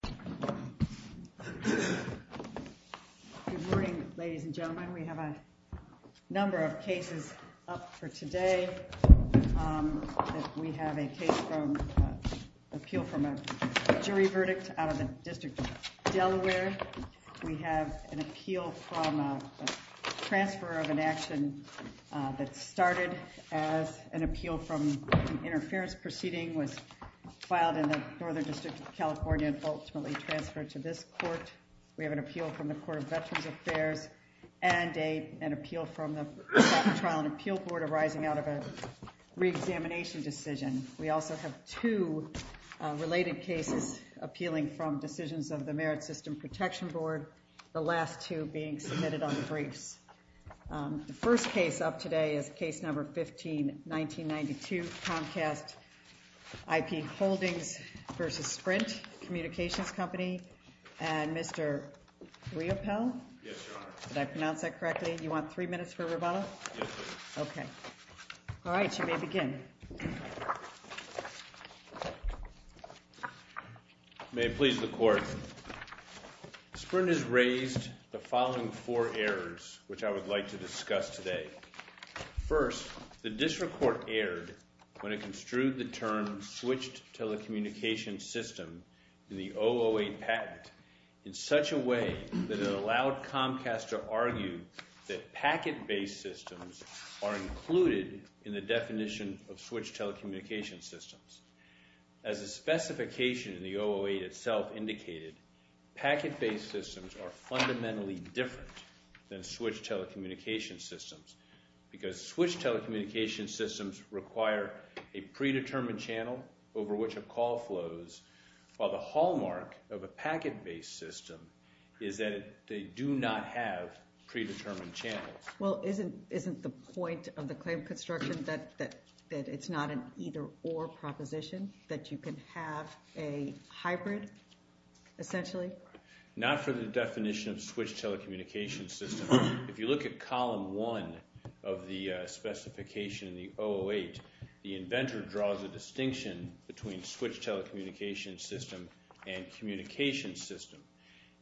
Good morning, ladies and gentlemen. We have a number of cases up for today. We have a case from, an appeal from a jury verdict out of the District of Delaware. We have an appeal from a transfer of an action that started as an appeal from an interference proceeding was filed in the Northern District of California and ultimately transferred to this court. We have an appeal from the Court of Veterans Affairs and an appeal from the Trial and Appeal Board arising out of a reexamination decision. We also have two related cases appealing from decisions of the Merit System Protection Board. These are the last two being submitted on the briefs. The first case up today is case number 15-1992 Comcast IP Holdings v. Sprint Communications Company and Mr. Riopelle. Yes, Your Honor. Did I pronounce that correctly? You want three minutes for rebuttal? Yes, please. Okay. All right, you may begin. May it please the Court, Sprint has raised the following four errors which I would like to discuss today. First, the District Court erred when it construed the term switched telecommunications system in the 008 patent in such a way that it allowed Comcast to argue that packet-based systems are included in the definition of switched telecommunications systems. As the specification in the 008 itself indicated, packet-based systems are fundamentally different than switched telecommunications systems because switched telecommunications systems require a predetermined channel over which a call flows while the hallmark of a packet-based system is that they do not have predetermined channels. Well, isn't the point of the claim construction that it's not an either-or proposition, that you can have a hybrid, essentially? Not for the definition of switched telecommunications systems. If you look at Column 1 of the specification in the 008, the inventor draws a distinction between switched telecommunications system and communications system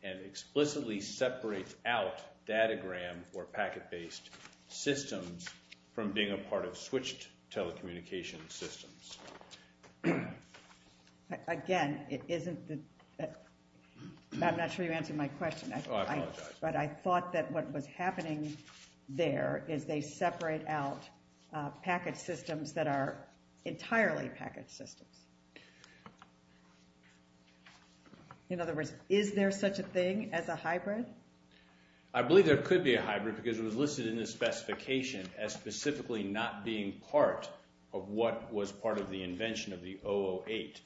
and explicitly separates out datagram or packet-based systems from being a part of switched telecommunications systems. Again, it isn't the... I'm not sure you answered my question. Oh, I apologize. But I thought that what was happening there is they separate out packet systems that are entirely packet systems. In other words, is there such a thing as a hybrid? I believe there could be a hybrid because it was listed in the specification as specifically not being part of what was part of the invention of the 008.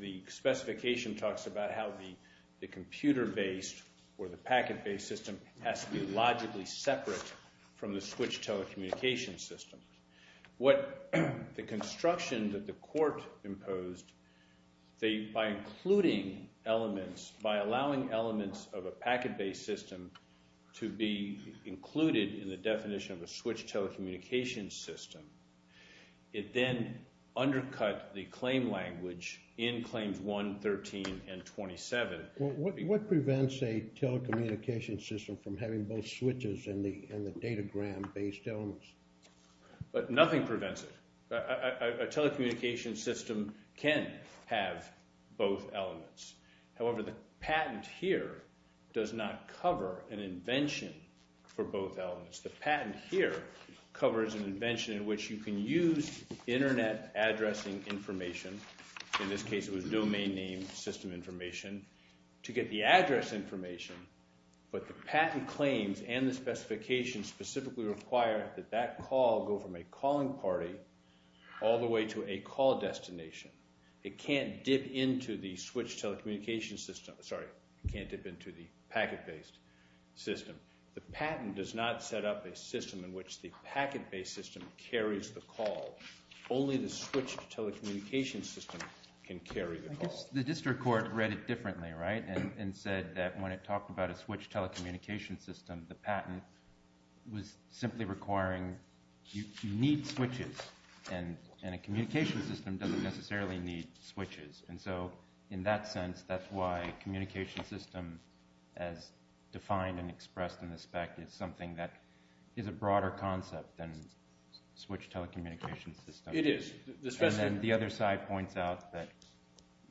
The specification talks about how the computer-based or the packet-based system has to be logically separate from the switched telecommunications system. What the construction that the court imposed, by including elements, by allowing elements of a packet-based system to be included in the definition of a switched telecommunications system, it then undercut the claim language in Claims 1, 13, and 27. What prevents a telecommunications system from having both switches and the datagram-based elements? Nothing prevents it. A telecommunications system can have both elements. However, the patent here does not cover an invention for both elements. The patent here covers an invention in which you can use internet addressing information. In this case, it was domain name system information to get the address information. But the patent claims and the specifications specifically require that that call go from a calling party all the way to a call destination. It can't dip into the switched telecommunications system. Sorry, it can't dip into the packet-based system. The patent does not set up a system in which the packet-based system carries the call. Only the switched telecommunications system can carry the call. I guess the district court read it differently, right, and said that when it talked about a switched telecommunications system, the patent was simply requiring you need switches. And a communications system doesn't necessarily need switches. And so in that sense, that's why communications system as defined and expressed in the spec is something that is a broader concept than switched telecommunications system. It is. And then the other side points out that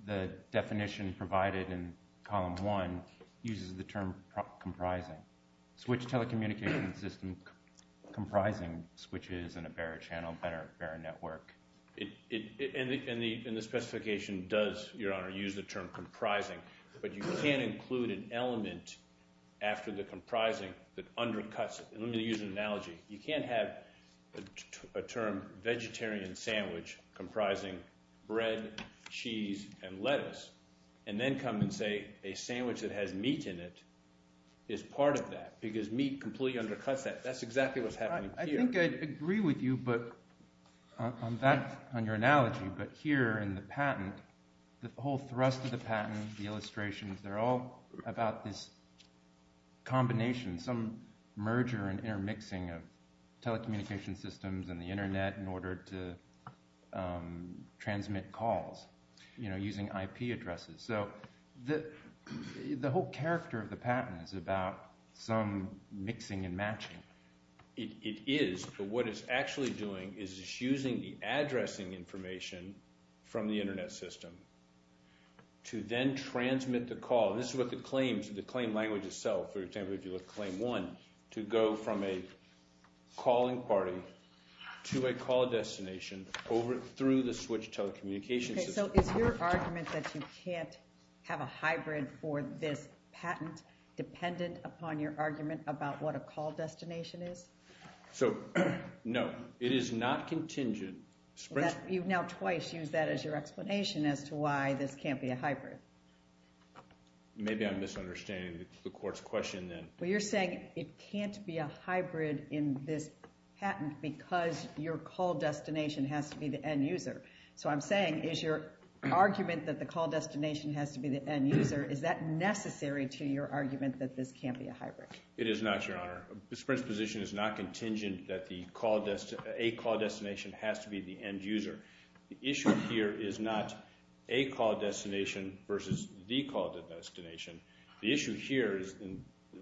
the definition provided in column one uses the term comprising. Switched telecommunications system comprising switches and a bearer channel, a bearer network. And the specification does, Your Honor, use the term comprising. But you can't include an element after the comprising that undercuts it. And let me use an analogy. You can't have a term vegetarian sandwich comprising bread, cheese, and lettuce and then come and say a sandwich that has meat in it is part of that because meat completely undercuts that. That's exactly what's happening here. I think I agree with you on your analogy. But here in the patent, the whole thrust of the patent, the illustrations, they're all about this combination, some merger and intermixing of telecommunications systems and the Internet in order to transmit calls using IP addresses. So the whole character of the patent is about some mixing and matching. It is. But what it's actually doing is it's using the addressing information from the Internet system to then transmit the call. This is what the claims, the claim language itself, for example, if you look at claim one, to go from a calling party to a call destination over through the switched telecommunications system. So is your argument that you can't have a hybrid for this patent dependent upon your argument about what a call destination is? No. It is not contingent. You've now twice used that as your explanation as to why this can't be a hybrid. Maybe I'm misunderstanding the court's question then. Well, you're saying it can't be a hybrid in this patent because your call destination has to be the end user. So I'm saying is your argument that the call destination has to be the end user, is that necessary to your argument that this can't be a hybrid? It is not, Your Honor. The Supreme Court's position is not contingent that a call destination has to be the end user. The issue here is not a call destination versus the call destination. The issue here,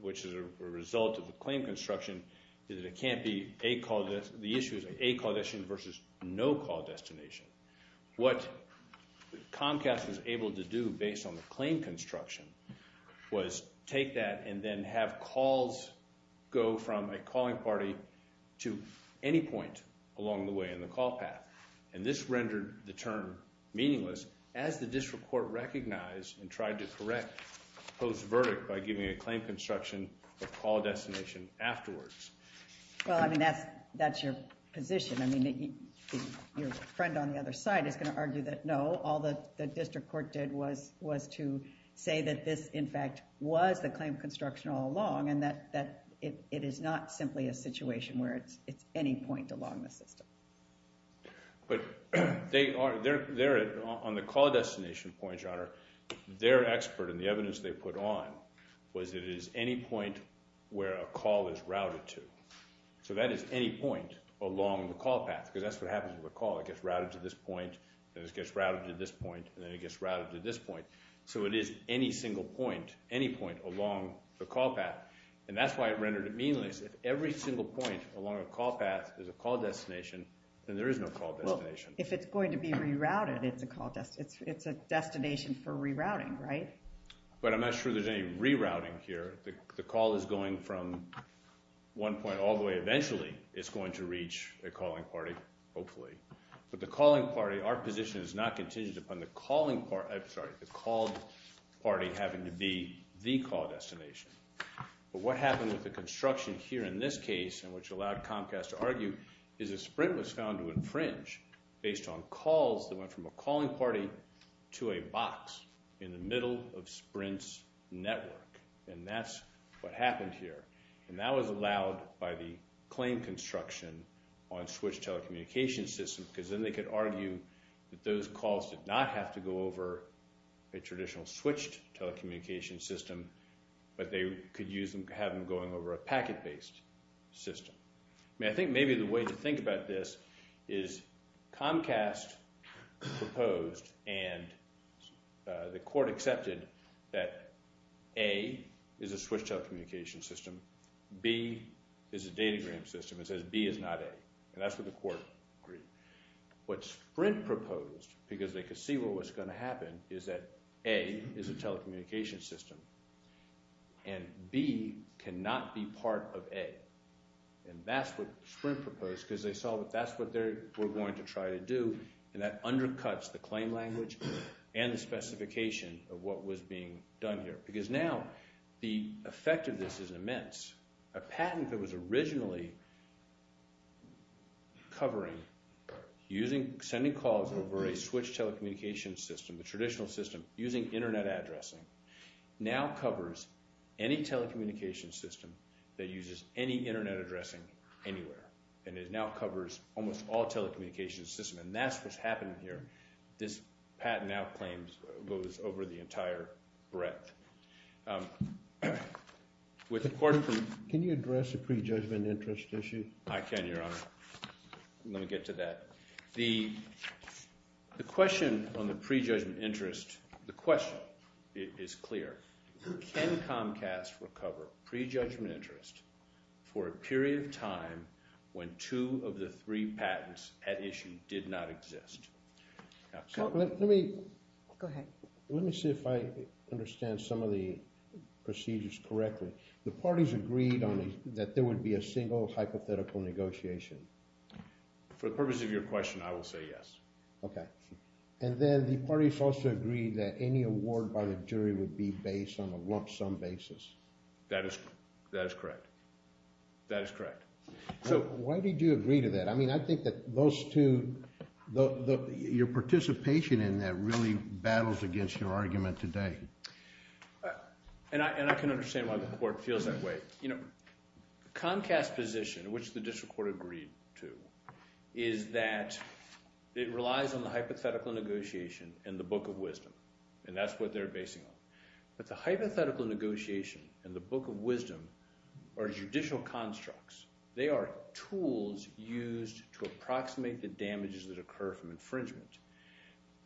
which is a result of the claim construction, is that it can't be a call destination. The issue is a call destination versus no call destination. What Comcast was able to do based on the claim construction was take that and then have calls go from a calling party to any point along the way in the call path. And this rendered the term meaningless as the district court recognized and tried to correct Poe's verdict by giving a claim construction of call destination afterwards. Well, I mean, that's your position. I mean, your friend on the other side is going to argue that no, all the district court did was to say that this, in fact, was the claim construction all along and that it is not simply a situation where it's any point along the system. But on the call destination point, Your Honor, their expert and the evidence they put on was it is any point where a call is routed to. So that is any point along the call path because that's what happens with a call. It gets routed to this point, then it gets routed to this point, and then it gets routed to this point. So it is any single point, any point along the call path, and that's why it rendered it meaningless. If every single point along a call path is a call destination, then there is no call destination. If it's going to be rerouted, it's a call destination. It's a destination for rerouting, right? But I'm not sure there's any rerouting here. The call is going from one point all the way. Eventually, it's going to reach a calling party, hopefully. But the calling party, our position is not contingent upon the calling party. I'm sorry, the called party having to be the call destination. But what happened with the construction here in this case, and which allowed Comcast to argue, is a sprint was found to infringe based on calls that went from a calling party to a box in the middle of Sprint's network. And that's what happened here. And that was allowed by the claim construction on switched telecommunications systems because then they could argue that those calls did not have to go over a traditional switched telecommunications system, but they could have them going over a packet-based system. I think maybe the way to think about this is Comcast proposed and the court accepted that A is a switched telecommunications system. B is a datagram system. It says B is not A. And that's what the court agreed. What Sprint proposed, because they could see what was going to happen, is that A is a telecommunications system, and B cannot be part of A. And that's what Sprint proposed because they saw that that's what they were going to try to do, and that undercuts the claim language and the specification of what was being done here. Because now the effect of this is immense. A patent that was originally covering sending calls over a switched telecommunications system, the traditional system using internet addressing, now covers any telecommunications system that uses any internet addressing anywhere. And it now covers almost all telecommunications systems. And that's what's happening here. This patent now goes over the entire breadth. Can you address the prejudgment interest issue? I can, Your Honor. Let me get to that. The question on the prejudgment interest, the question is clear. Can Comcast recover prejudgment interest for a period of time when two of the three patents at issue did not exist? Go ahead. Let me see if I understand some of the procedures correctly. The parties agreed that there would be a single hypothetical negotiation. For the purpose of your question, I will say yes. Okay. And then the parties also agreed that any award by the jury would be based on a lump sum basis. That is correct. That is correct. So why did you agree to that? I mean, I think that those two – your participation in that really battles against your argument today. And I can understand why the court feels that way. Comcast's position, which the district court agreed to, is that it relies on the hypothetical negotiation and the book of wisdom. And that's what they're basing it on. But the hypothetical negotiation and the book of wisdom are judicial constructs. They are tools used to approximate the damages that occur from infringement.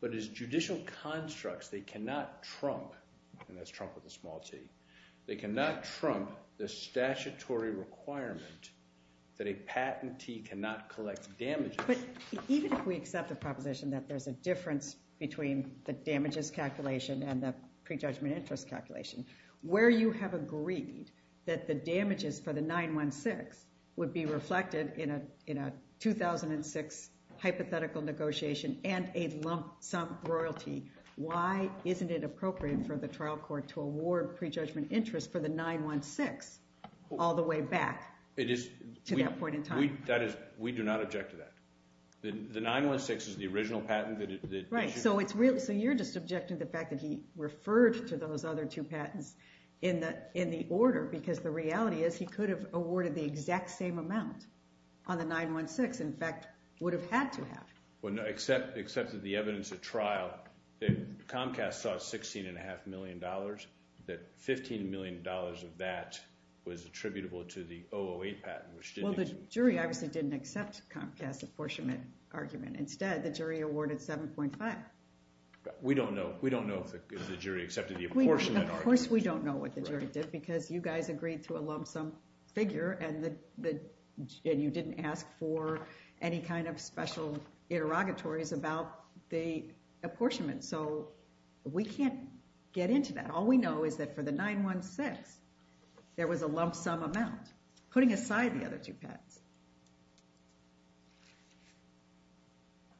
But as judicial constructs, they cannot trump – and that's trump with a small t – they cannot trump the statutory requirement that a patentee cannot collect damages. But even if we accept the proposition that there's a difference between the damages calculation and the prejudgment interest calculation, where you have agreed that the damages for the 9-1-6 would be reflected in a 2006 hypothetical negotiation and a lump sum royalty, why isn't it appropriate for the trial court to award prejudgment interest for the 9-1-6 all the way back to that point in time? That is – we do not object to that. The 9-1-6 is the original patent that – Right. So it's – so you're just objecting to the fact that he referred to those other two patents in the order because the reality is he could have awarded the exact same amount on the 9-1-6. In fact, would have had to have. Well, except that the evidence at trial – Comcast saw $16.5 million, that $15 million of that was attributable to the 008 patent, which didn't exist. Well, the jury obviously didn't accept Comcast's apportionment argument. Instead, the jury awarded 7.5. We don't know if the jury accepted the apportionment argument. Of course we don't know what the jury did because you guys agreed to a lump sum figure and you didn't ask for any kind of special interrogatories about the apportionment. So we can't get into that. All we know is that for the 9-1-6, there was a lump sum amount, putting aside the other two patents.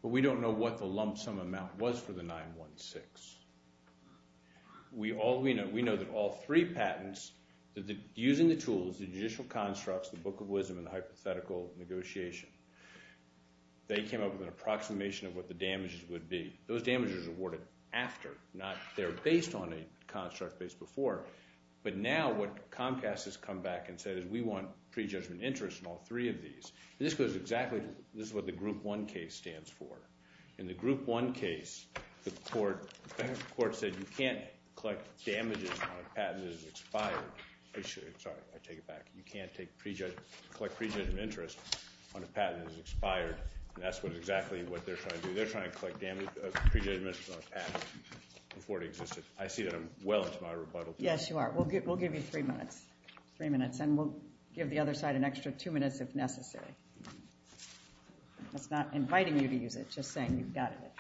But we don't know what the lump sum amount was for the 9-1-6. We know that all three patents, using the tools, the judicial constructs, the Book of Wisdom, and the hypothetical negotiation, they came up with an approximation of what the damages would be. Those damages were awarded after, not they're based on a construct based before. But now what Comcast has come back and said is we want prejudgment interest in all three of these. And this goes exactly – this is what the Group 1 case stands for. In the Group 1 case, the court said you can't collect damages on a patent that has expired. Sorry, I take it back. You can't collect prejudgment interest on a patent that has expired, and that's exactly what they're trying to do. Prejudgment interest on a patent before it existed. I see that I'm well into my rebuttal. Yes, you are. We'll give you three minutes. Three minutes, and we'll give the other side an extra two minutes if necessary. That's not inviting you to use it, just saying you've got it.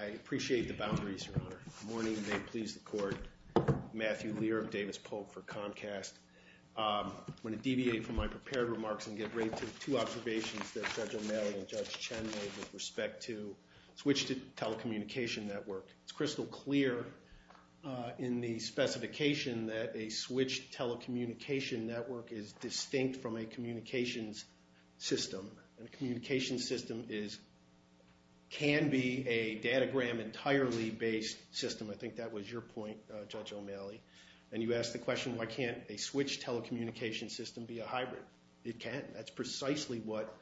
I appreciate the boundaries, Your Honor. Good morning and may it please the Court. Matthew Lear of Davis Polk for Comcast. I'm going to deviate from my prepared remarks and get right to the two observations that Judge O'Malley and Judge Chen made with respect to switched telecommunication network. It's crystal clear in the specification that a switched telecommunication network is distinct from a communications system, and a communications system can be a datagram entirely based system. I think that was your point, Judge O'Malley, and you asked the question why can't a switched telecommunication system be a hybrid. It can't. That's precisely what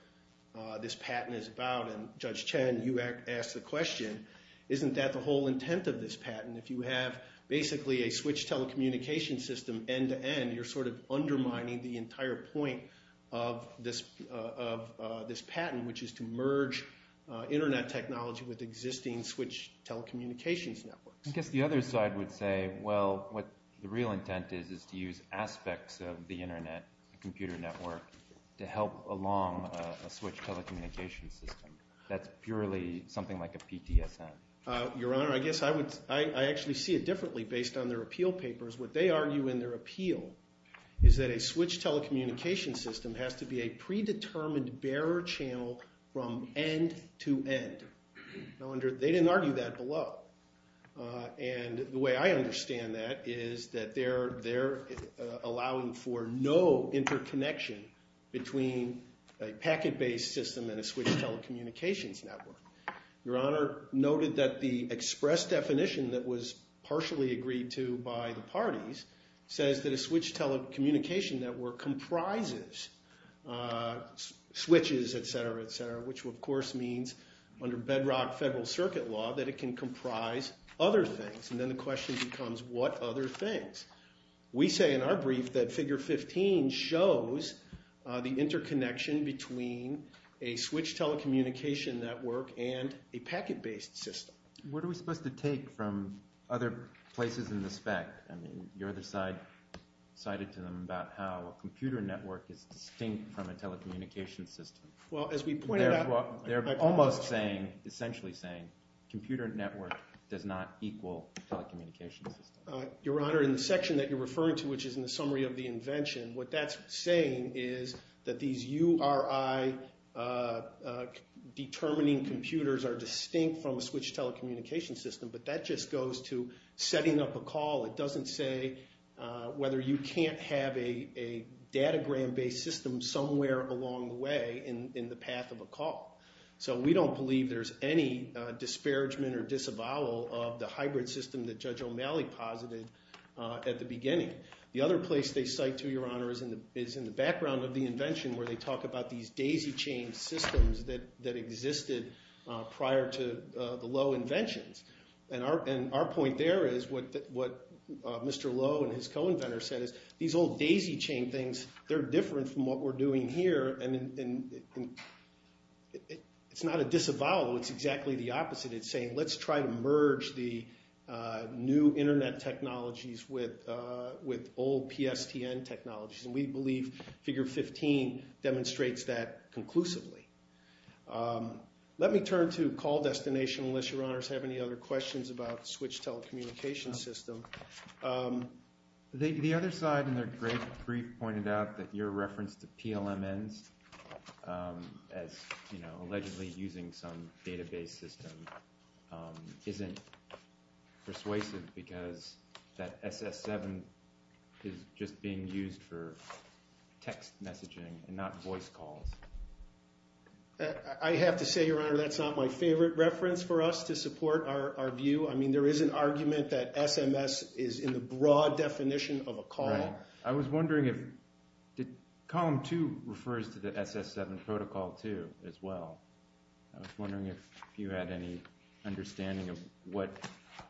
this patent is about, and Judge Chen, you asked the question, isn't that the whole intent of this patent? If you have basically a switched telecommunications system end-to-end, you're sort of undermining the entire point of this patent, which is to merge Internet technology with existing switched telecommunications networks. I guess the other side would say, well, what the real intent is is to use aspects of the Internet computer network to help along a switched telecommunications system. That's purely something like a PTSN. Your Honor, I guess I actually see it differently based on their appeal papers. What they argue in their appeal is that a switched telecommunications system has to be a predetermined bearer channel from end-to-end. They didn't argue that below, and the way I understand that is that they're allowing for no interconnection between a packet-based system and a switched telecommunications network. Your Honor noted that the express definition that was partially agreed to by the parties says that a switched telecommunication network comprises switches, et cetera, et cetera, which of course means under bedrock Federal Circuit law that it can comprise other things. And then the question becomes what other things? We say in our brief that Figure 15 shows the interconnection between a switched telecommunication network and a packet-based system. What are we supposed to take from other places in the spec? I mean, your other side cited to them about how a computer network is distinct from a telecommunications system. Well, as we pointed out, they're almost saying, essentially saying, computer network does not equal telecommunications system. Your Honor, in the section that you're referring to, which is in the summary of the invention, what that's saying is that these URI determining computers are distinct from a switched telecommunications system, but that just goes to setting up a call. It doesn't say whether you can't have a datagram-based system somewhere along the way. It doesn't say in the path of a call. So we don't believe there's any disparagement or disavowal of the hybrid system that Judge O'Malley posited at the beginning. The other place they cite to, Your Honor, is in the background of the invention where they talk about these daisy-chained systems that existed prior to the Lowe inventions. And our point there is what Mr. Lowe and his co-inventors said is these old daisy-chained things, they're different from what we're doing here, and it's not a disavowal. It's exactly the opposite. It's saying let's try to merge the new Internet technologies with old PSTN technologies, and we believe Figure 15 demonstrates that conclusively. Let me turn to call destination unless Your Honors have any other questions about the switched telecommunications system. The other side in their brief pointed out that your reference to PLMNs as allegedly using some database system isn't persuasive because that SS7 is just being used for text messaging and not voice calls. I have to say, Your Honor, that's not my favorite reference for us to support our view. I mean, there is an argument that SMS is in the broad definition of a call. I was wondering if column 2 refers to the SS7 protocol 2 as well. I was wondering if you had any understanding of what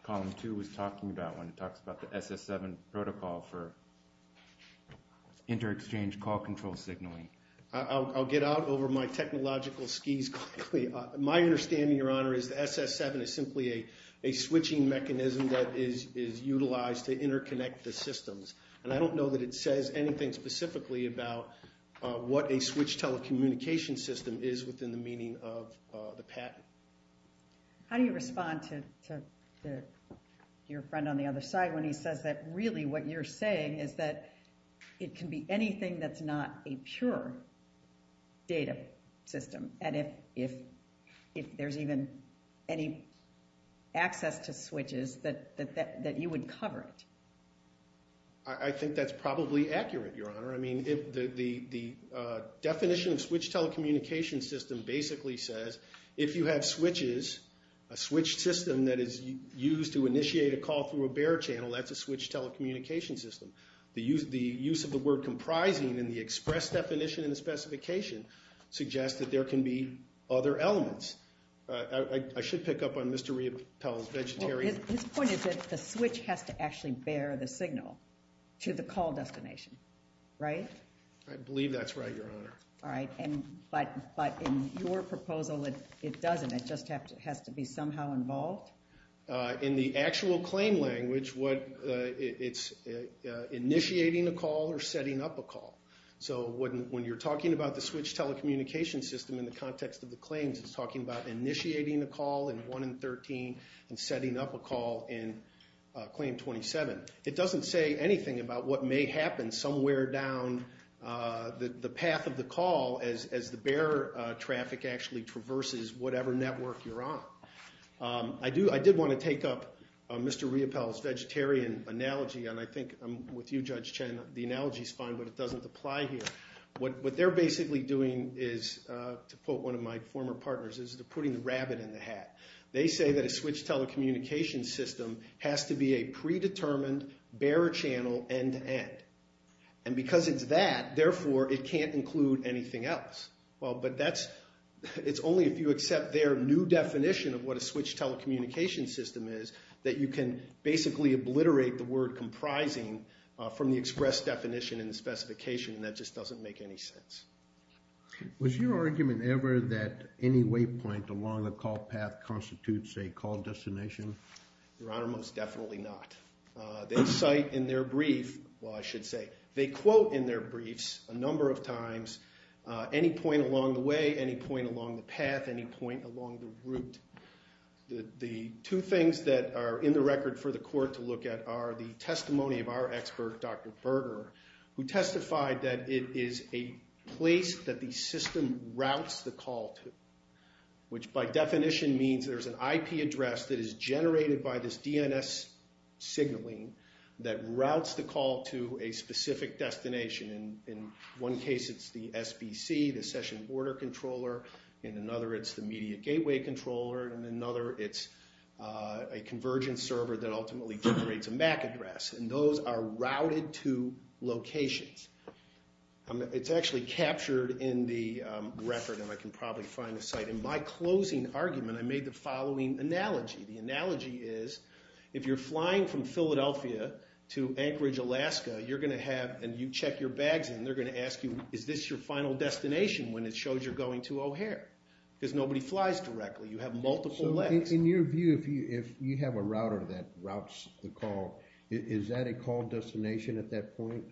column 2 was talking about when it talks about the SS7 protocol for inter-exchange call control signaling. I'll get out over my technological skis quickly. My understanding, Your Honor, is the SS7 is simply a switching mechanism that is utilized to interconnect the systems, and I don't know that it says anything specifically about what a switched telecommunications system is within the meaning of the patent. How do you respond to your friend on the other side when he says that really what you're saying is that it can be anything that's not a pure data system, and if there's even any access to switches, that you would cover it? I think that's probably accurate, Your Honor. I mean, the definition of switched telecommunications system basically says if you have switches, a switched system that is used to initiate a call through a bare channel, that's a switched telecommunications system. The use of the word comprising in the express definition in the specification suggests that there can be other elements. I should pick up on Mr. Riopelle's vegetarian. His point is that the switch has to actually bear the signal to the call destination, right? I believe that's right, Your Honor. All right, but in your proposal, it doesn't. It just has to be somehow involved? In the actual claim language, it's initiating a call or setting up a call. So when you're talking about the switched telecommunications system in the context of the claims, it's talking about initiating a call in 1 and 13 and setting up a call in claim 27. It doesn't say anything about what may happen somewhere down the path of the call as the bare traffic actually traverses whatever network you're on. I did want to take up Mr. Riopelle's vegetarian analogy, and I think with you, Judge Chen, the analogy is fine, but it doesn't apply here. What they're basically doing is, to quote one of my former partners, is they're putting the rabbit in the hat. They say that a switched telecommunications system has to be a predetermined bare channel end-to-end. And because it's that, therefore, it can't include anything else. Well, but that's only if you accept their new definition of what a switched telecommunications system is that you can basically obliterate the word comprising from the express definition in the specification, and that just doesn't make any sense. Was your argument ever that any waypoint along a call path constitutes a call destination? Your Honor, most definitely not. They cite in their brief, well, I should say, they quote in their briefs a number of times any point along the way, any point along the path, any point along the route. The two things that are in the record for the court to look at are the testimony of our expert, Dr. Berger, who testified that it is a place that the system routes the call to, which by definition means there's an IP address that is generated by this DNS signaling that routes the call to a specific destination. In one case, it's the SBC, the Session Border Controller. In another, it's the Media Gateway Controller. In another, it's a convergence server that ultimately generates a MAC address, and those are routed to locations. It's actually captured in the record, and I can probably find the site. In my closing argument, I made the following analogy. The analogy is if you're flying from Philadelphia to Anchorage, Alaska, and you check your bags in, they're going to ask you, is this your final destination when it shows you're going to O'Hare? Because nobody flies directly. You have multiple legs. So in your view, if you have a router that routes the call, is that a call destination at that point?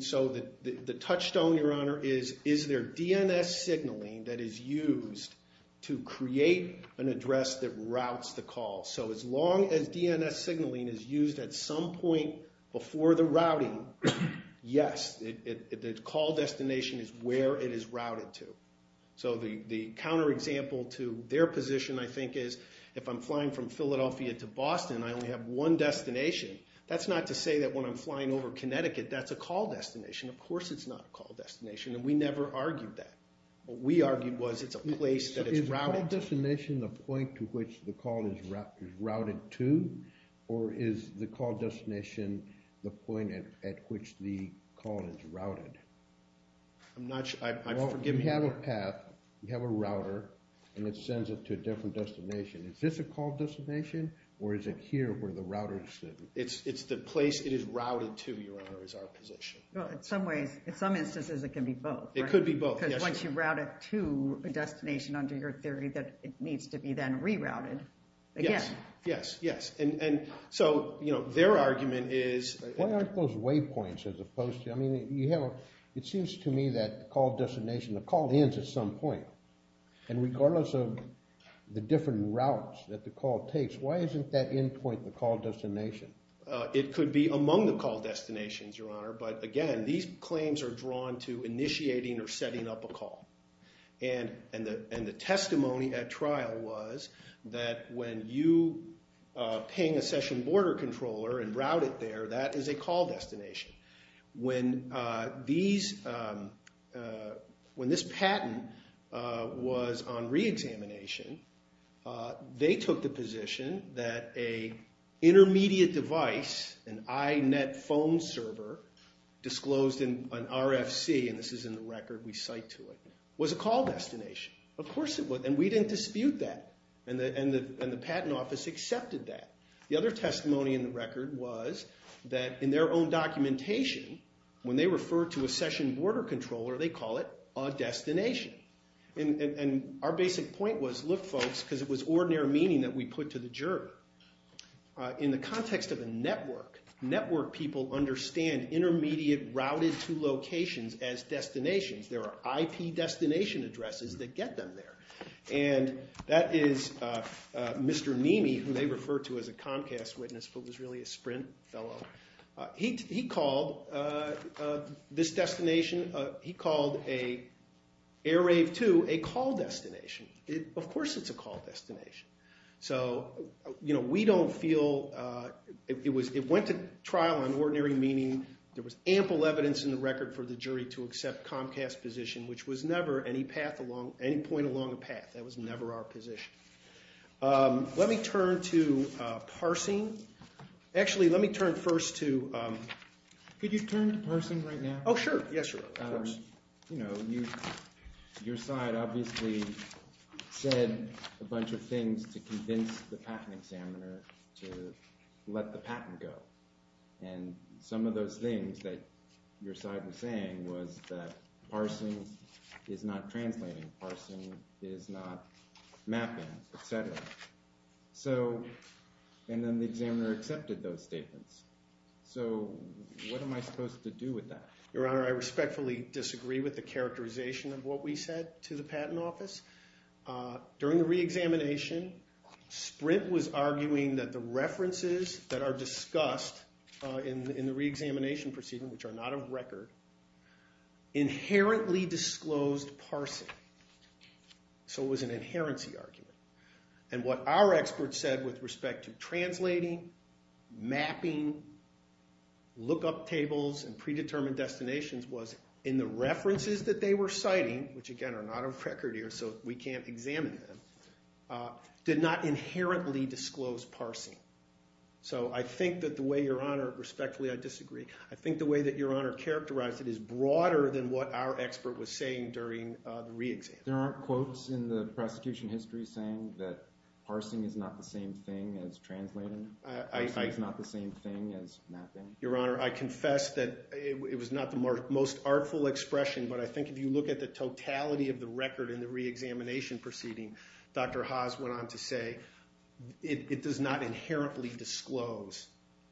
So the touchstone, Your Honor, is is there DNS signaling that is used to create an address that routes the call? So as long as DNS signaling is used at some point before the routing, yes, the call destination is where it is routed to. So the counterexample to their position, I think, is if I'm flying from Philadelphia to Boston, I only have one destination. That's not to say that when I'm flying over Connecticut, that's a call destination. Of course it's not a call destination, and we never argued that. What we argued was it's a place that is routed. Is the call destination the point to which the call is routed to, or is the call destination the point at which the call is routed? I'm not sure. You have a path, you have a router, and it sends it to a different destination. Is this a call destination, or is it here where the router is sitting? It's the place it is routed to, Your Honor, is our position. Well, in some instances it can be both. It could be both, yes. Once you route it to a destination, under your theory, that it needs to be then rerouted. Yes, yes, yes. So their argument is— Why aren't those waypoints as opposed to— I mean, it seems to me that the call destination, the call ends at some point, and regardless of the different routes that the call takes, why isn't that endpoint the call destination? It could be among the call destinations, Your Honor, but, again, these claims are drawn to initiating or setting up a call. And the testimony at trial was that when you ping a session border controller and route it there, that is a call destination. When this patent was on reexamination, they took the position that an intermediate device, an inet phone server disclosed in an RFC, and this is in the record we cite to it, was a call destination. Of course it was, and we didn't dispute that. And the patent office accepted that. The other testimony in the record was that in their own documentation, when they refer to a session border controller, they call it a destination. And our basic point was, look, folks, because it was ordinary meaning that we put to the jury. In the context of a network, network people understand intermediate routed to locations as destinations. There are IP destination addresses that get them there. And that is Mr. Nimi, who they refer to as a Comcast witness, but was really a Sprint fellow. He called this destination, he called Airave 2, a call destination. Of course it's a call destination. So we don't feel, it went to trial on ordinary meaning. There was ample evidence in the record for the jury to accept Comcast's position, which was never any point along a path. That was never our position. Let me turn to parsing. Actually, let me turn first to... Could you turn to parsing right now? Oh, sure. Yes, of course. You know, your side obviously said a bunch of things to convince the patent examiner to let the patent go. And some of those things that your side was saying was that parsing is not translating, parsing is not mapping, etc. And then the examiner accepted those statements. So what am I supposed to do with that? Your Honor, I respectfully disagree with the characterization of what we said to the patent office. During the reexamination, Sprint was arguing that the references that are discussed in the reexamination proceeding, which are not of record, inherently disclosed parsing. So it was an inherency argument. And what our expert said with respect to translating, mapping, look-up tables, and predetermined destinations was in the references that they were citing, which again are not of record here so we can't examine them, did not inherently disclose parsing. So I think that the way your Honor... Respectfully, I disagree. I think the way that your Honor characterized it is broader than what our expert was saying during the reexamination. There aren't quotes in the prosecution history saying that parsing is not the same thing as translating? Parsing is not the same thing as mapping? Your Honor, I confess that it was not the most artful expression, but I think if you look at the totality of the record in the reexamination proceeding, Dr. Haas went on to say it does not inherently disclose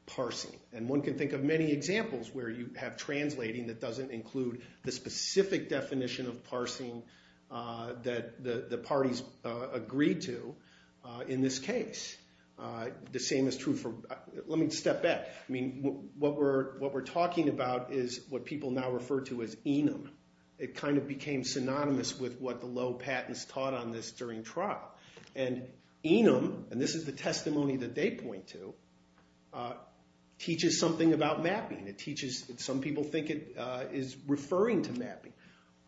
parsing. And one can think of many examples where you have translating that doesn't include the specific definition of parsing that the parties agreed to in this case. The same is true for... Let me step back. What we're talking about is what people now refer to as enum. It kind of became synonymous with what the low patents taught on this during trial. And enum, and this is the testimony that they point to, teaches something about mapping. Some people think it is referring to mapping.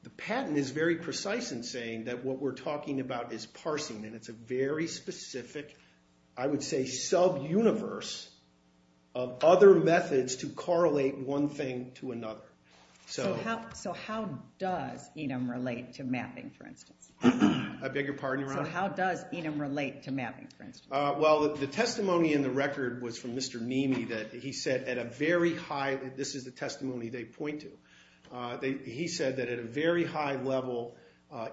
The patent is very precise in saying that what we're talking about is parsing, and it's a very specific, I would say sub-universe of other methods to correlate one thing to another. So how does enum relate to mapping, for instance? I beg your pardon, Your Honor? So how does enum relate to mapping, for instance? Well, the testimony in the record was from Mr. Nimi that he said at a very high... This is the testimony they point to. He said that at a very high level,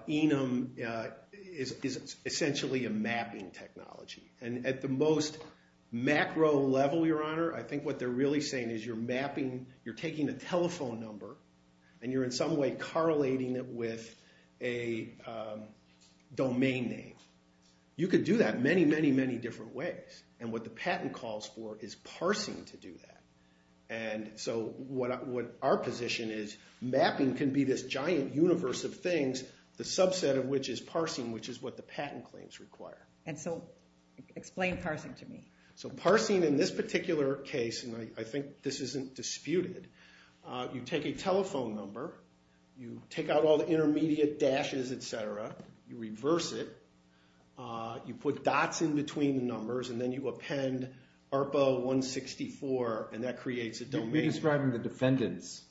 enum is essentially a mapping technology. And at the most macro level, Your Honor, I think what they're really saying is you're taking a telephone number and you're in some way correlating it with a domain name. You could do that many, many, many different ways. And what the patent calls for is parsing to do that. And so what our position is mapping can be this giant universe of things, the subset of which is parsing, which is what the patent claims require. And so explain parsing to me. So parsing in this particular case, and I think this isn't disputed, you take a telephone number, you take out all the intermediate dashes, etc., you reverse it, you put dots in between the numbers, and then you append ARPA 164, and that creates a domain. You're describing the defendant's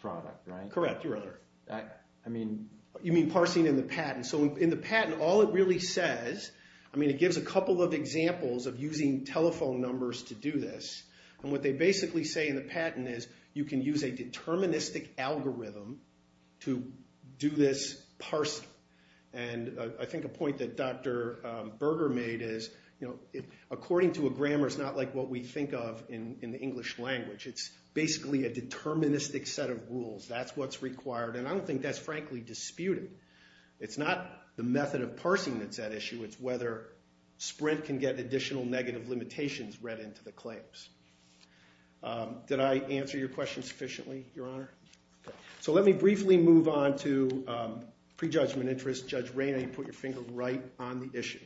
product, right? Correct, Your Honor. I mean... You mean parsing in the patent. So in the patent, all it really says, I mean, it gives a couple of examples of using telephone numbers to do this. And what they basically say in the patent is you can use a deterministic algorithm to do this parsing. And I think a point that Dr. Berger made is, according to a grammar, it's not like what we think of in the English language. It's basically a deterministic set of rules. That's what's required, and I don't think that's frankly disputed. It's not the method of parsing that's at issue, it's whether Sprint can get additional negative limitations read into the claims. Did I answer your question sufficiently, Your Honor? So let me briefly move on to prejudgment interest. Judge Rayna, you put your finger right on the issue.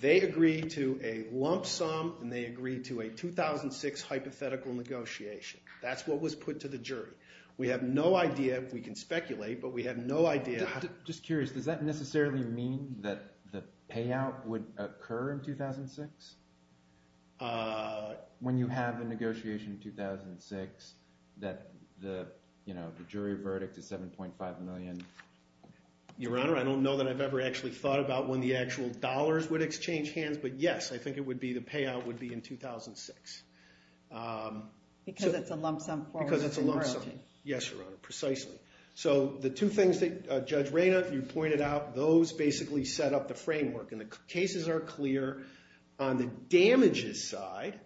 They agreed to a lump sum, and they agreed to a 2006 hypothetical negotiation. That's what was put to the jury. We have no idea, we can speculate, but we have no idea... Just curious, does that necessarily mean that the payout would occur in 2006? When you have a negotiation in 2006, that the jury verdict is $7.5 million? Your Honor, I don't know that I've ever actually thought about when the actual dollars would exchange hands, but yes, I think the payout would be in 2006. Because it's a lump sum. Because it's a lump sum, yes, Your Honor, precisely. So the two things that Judge Rayna, you pointed out, those basically set up the framework, and the cases are clear on the damages side,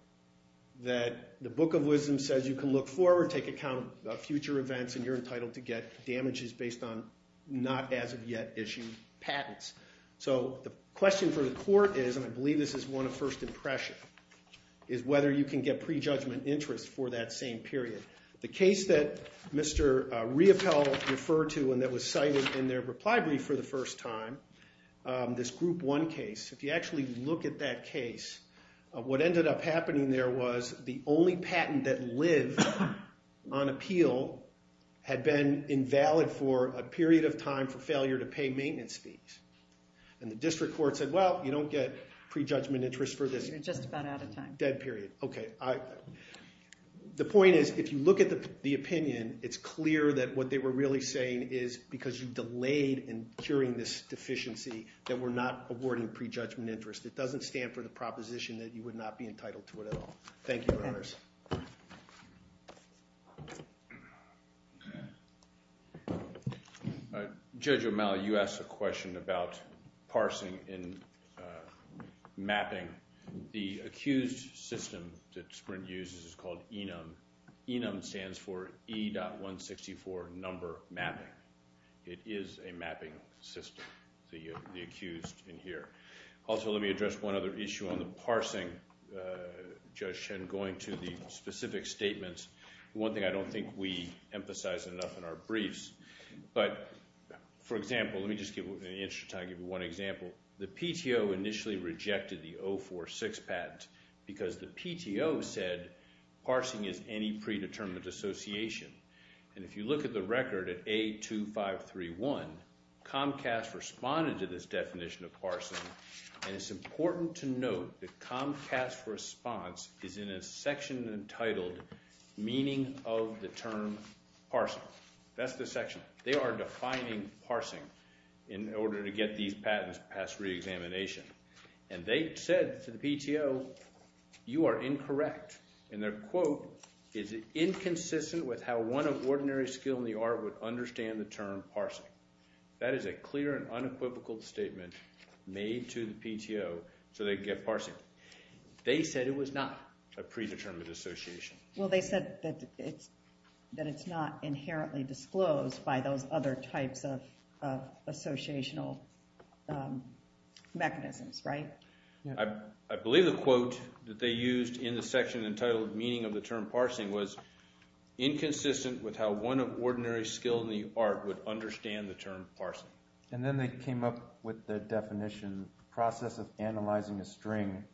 that the Book of Wisdom says you can look forward, take account of future events, and you're entitled to get damages based on not as of yet issued patents. So the question for the court is, and I believe this is one of first impression, is whether you can get prejudgment interest for that same period. The case that Mr. Riopelle referred to and that was cited in their reply brief for the first time, this Group 1 case, if you actually look at that case, what ended up happening there was the only patent that lived on appeal had been invalid for a period of time for failure to pay maintenance fees. And the district court said, well, you don't get prejudgment interest for this. You're just about out of time. Dead period. Okay. The point is, if you look at the opinion, it's clear that what they were really saying is because you delayed in curing this deficiency that we're not awarding prejudgment interest. It doesn't stand for the proposition that you would not be entitled to it at all. Thank you, Your Honors. Judge O'Malley, you asked a question about parsing and mapping. The accused system that Sprint uses is called ENUM. ENUM stands for E.164 Number Mapping. It is a mapping system, the accused in here. Also, let me address one other issue on the parsing, Judge Chen, going to the specific statements. One thing I don't think we emphasized enough in our briefs, but, for example, let me just give you one example. The PTO initially rejected the 046 patent because the PTO said parsing is any predetermined association. If you look at the record at A2531, Comcast responded to this definition of parsing, and it's important to note that Comcast's response is in a section entitled Meaning of the Term Parsing. That's the section. They are defining parsing in order to get these patents passed reexamination. And they said to the PTO, you are incorrect. And their quote is inconsistent with how one of ordinary skill in the art would understand the term parsing. That is a clear and unequivocal statement made to the PTO so they could get parsing. They said it was not a predetermined association. Well, they said that it's not inherently disclosed by those other types of associational mechanisms, right? I believe the quote that they used in the section entitled Meaning of the Term Parsing was inconsistent with how one of ordinary skill in the art would understand the term parsing. And then they came up with the definition process of analyzing a string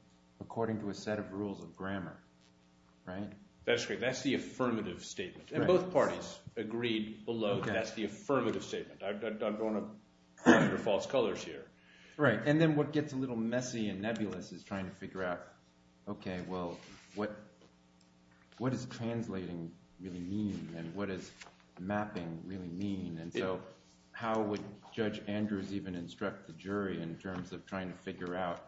according to a set of rules of grammar, right? That's correct. That's the affirmative statement. And both parties agreed below that that's the affirmative statement. I don't want to go under false colors here. Right. And then what gets a little messy and nebulous is trying to figure out, okay, well, what does translating really mean and what does mapping really mean? And so how would Judge Andrews even instruct the jury in terms of trying to figure out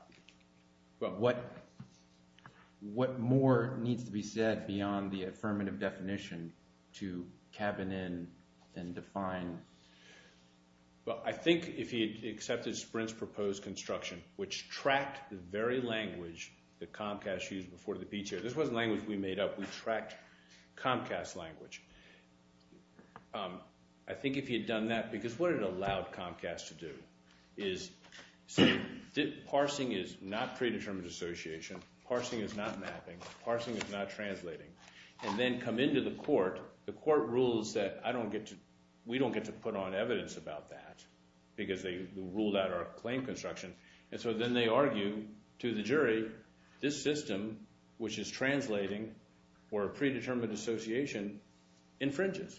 what more needs to be said beyond the affirmative definition to cabin in and define? Well, I think if he had accepted Sprint's proposed construction, which tracked the very language that Comcast used before the PTA. This wasn't language we made up. We tracked Comcast's language. I think if he had done that, because what it allowed Comcast to do is say parsing is not predetermined association, parsing is not mapping, parsing is not translating, and then come into the court. The court rules that we don't get to put on evidence about that because they ruled out our claim construction. And so then they argue to the jury this system, which is translating or a predetermined association, infringes.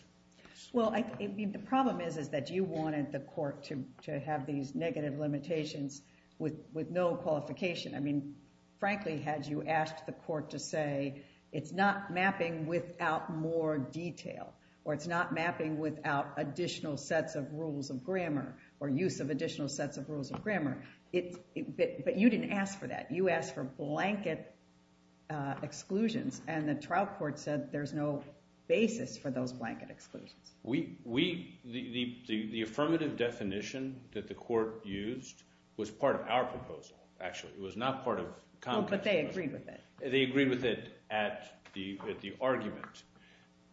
Well, the problem is that you wanted the court to have these negative limitations with no qualification. I mean, frankly, had you asked the court to say it's not mapping without more detail, or it's not mapping without additional sets of rules of grammar or use of additional sets of rules of grammar, but you didn't ask for that. You asked for blanket exclusions, and the trial court said there's no basis for those blanket exclusions. The affirmative definition that the court used was part of our proposal, actually. It was not part of Comcast's proposal. But they agreed with it. They agreed with it at the argument.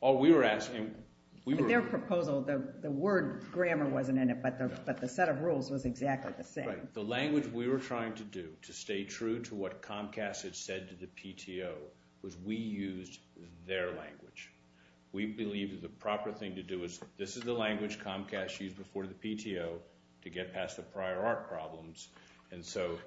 All we were asking, we were... But their proposal, the word grammar wasn't in it, but the set of rules was exactly the same. Right. The language we were trying to do to stay true to what Comcast had said to the PTO was we used their language. We believed the proper thing to do is this is the language Comcast used before the PTO to get past the prior art problems, and so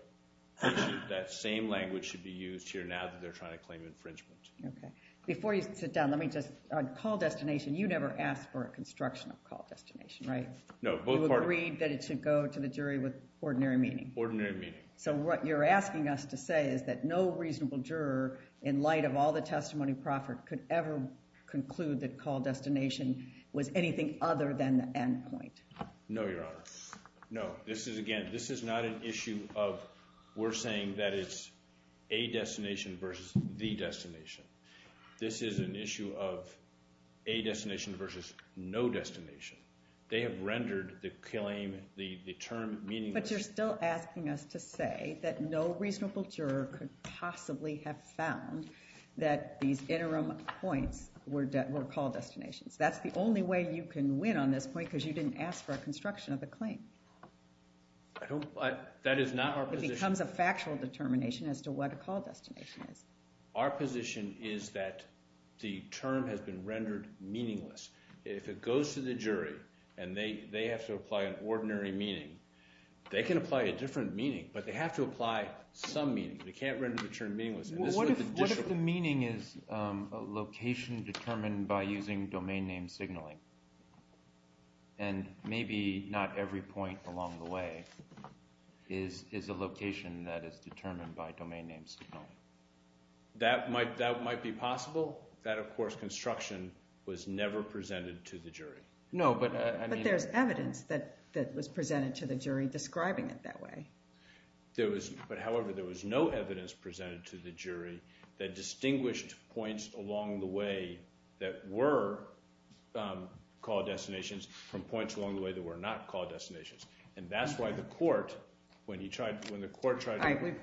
that same language should be used here now that they're trying to claim infringement. Okay. Before you sit down, let me just... On call destination, you never asked for a construction of call destination, right? No, both parties. You agreed that it should go to the jury with ordinary meaning. Ordinary meaning. So what you're asking us to say is that no reasonable juror, in light of all the testimony proffered, could ever conclude that call destination was anything other than the end point. No, Your Honor. No. This is, again, this is not an issue of we're saying that it's a destination versus the destination. This is an issue of a destination versus no destination. They have rendered the claim, the term meaningless. But you're still asking us to say that no reasonable juror could possibly have found that these interim points were call destinations. That's the only way you can win on this point because you didn't ask for a construction of a claim. That is not our position. It becomes a factual determination as to what a call destination is. Our position is that the term has been rendered meaningless. If it goes to the jury and they have to apply an ordinary meaning, they can apply a different meaning, but they have to apply some meaning. They can't render the term meaningless. What if the meaning is location determined by using domain name signaling and maybe not every point along the way is a location that is determined by domain name signaling? That might be possible. That, of course, construction was never presented to the jury. No, but I mean— But there's evidence that was presented to the jury describing it that way. However, there was no evidence presented to the jury that distinguished points along the way that were call destinations from points along the way that were not call destinations. That's why the court, when the court tried to—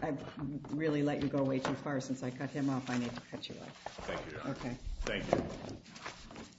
I've really let you go way too far since I cut him off. I need to cut you off. Thank you, Your Honor. Okay. Thank you.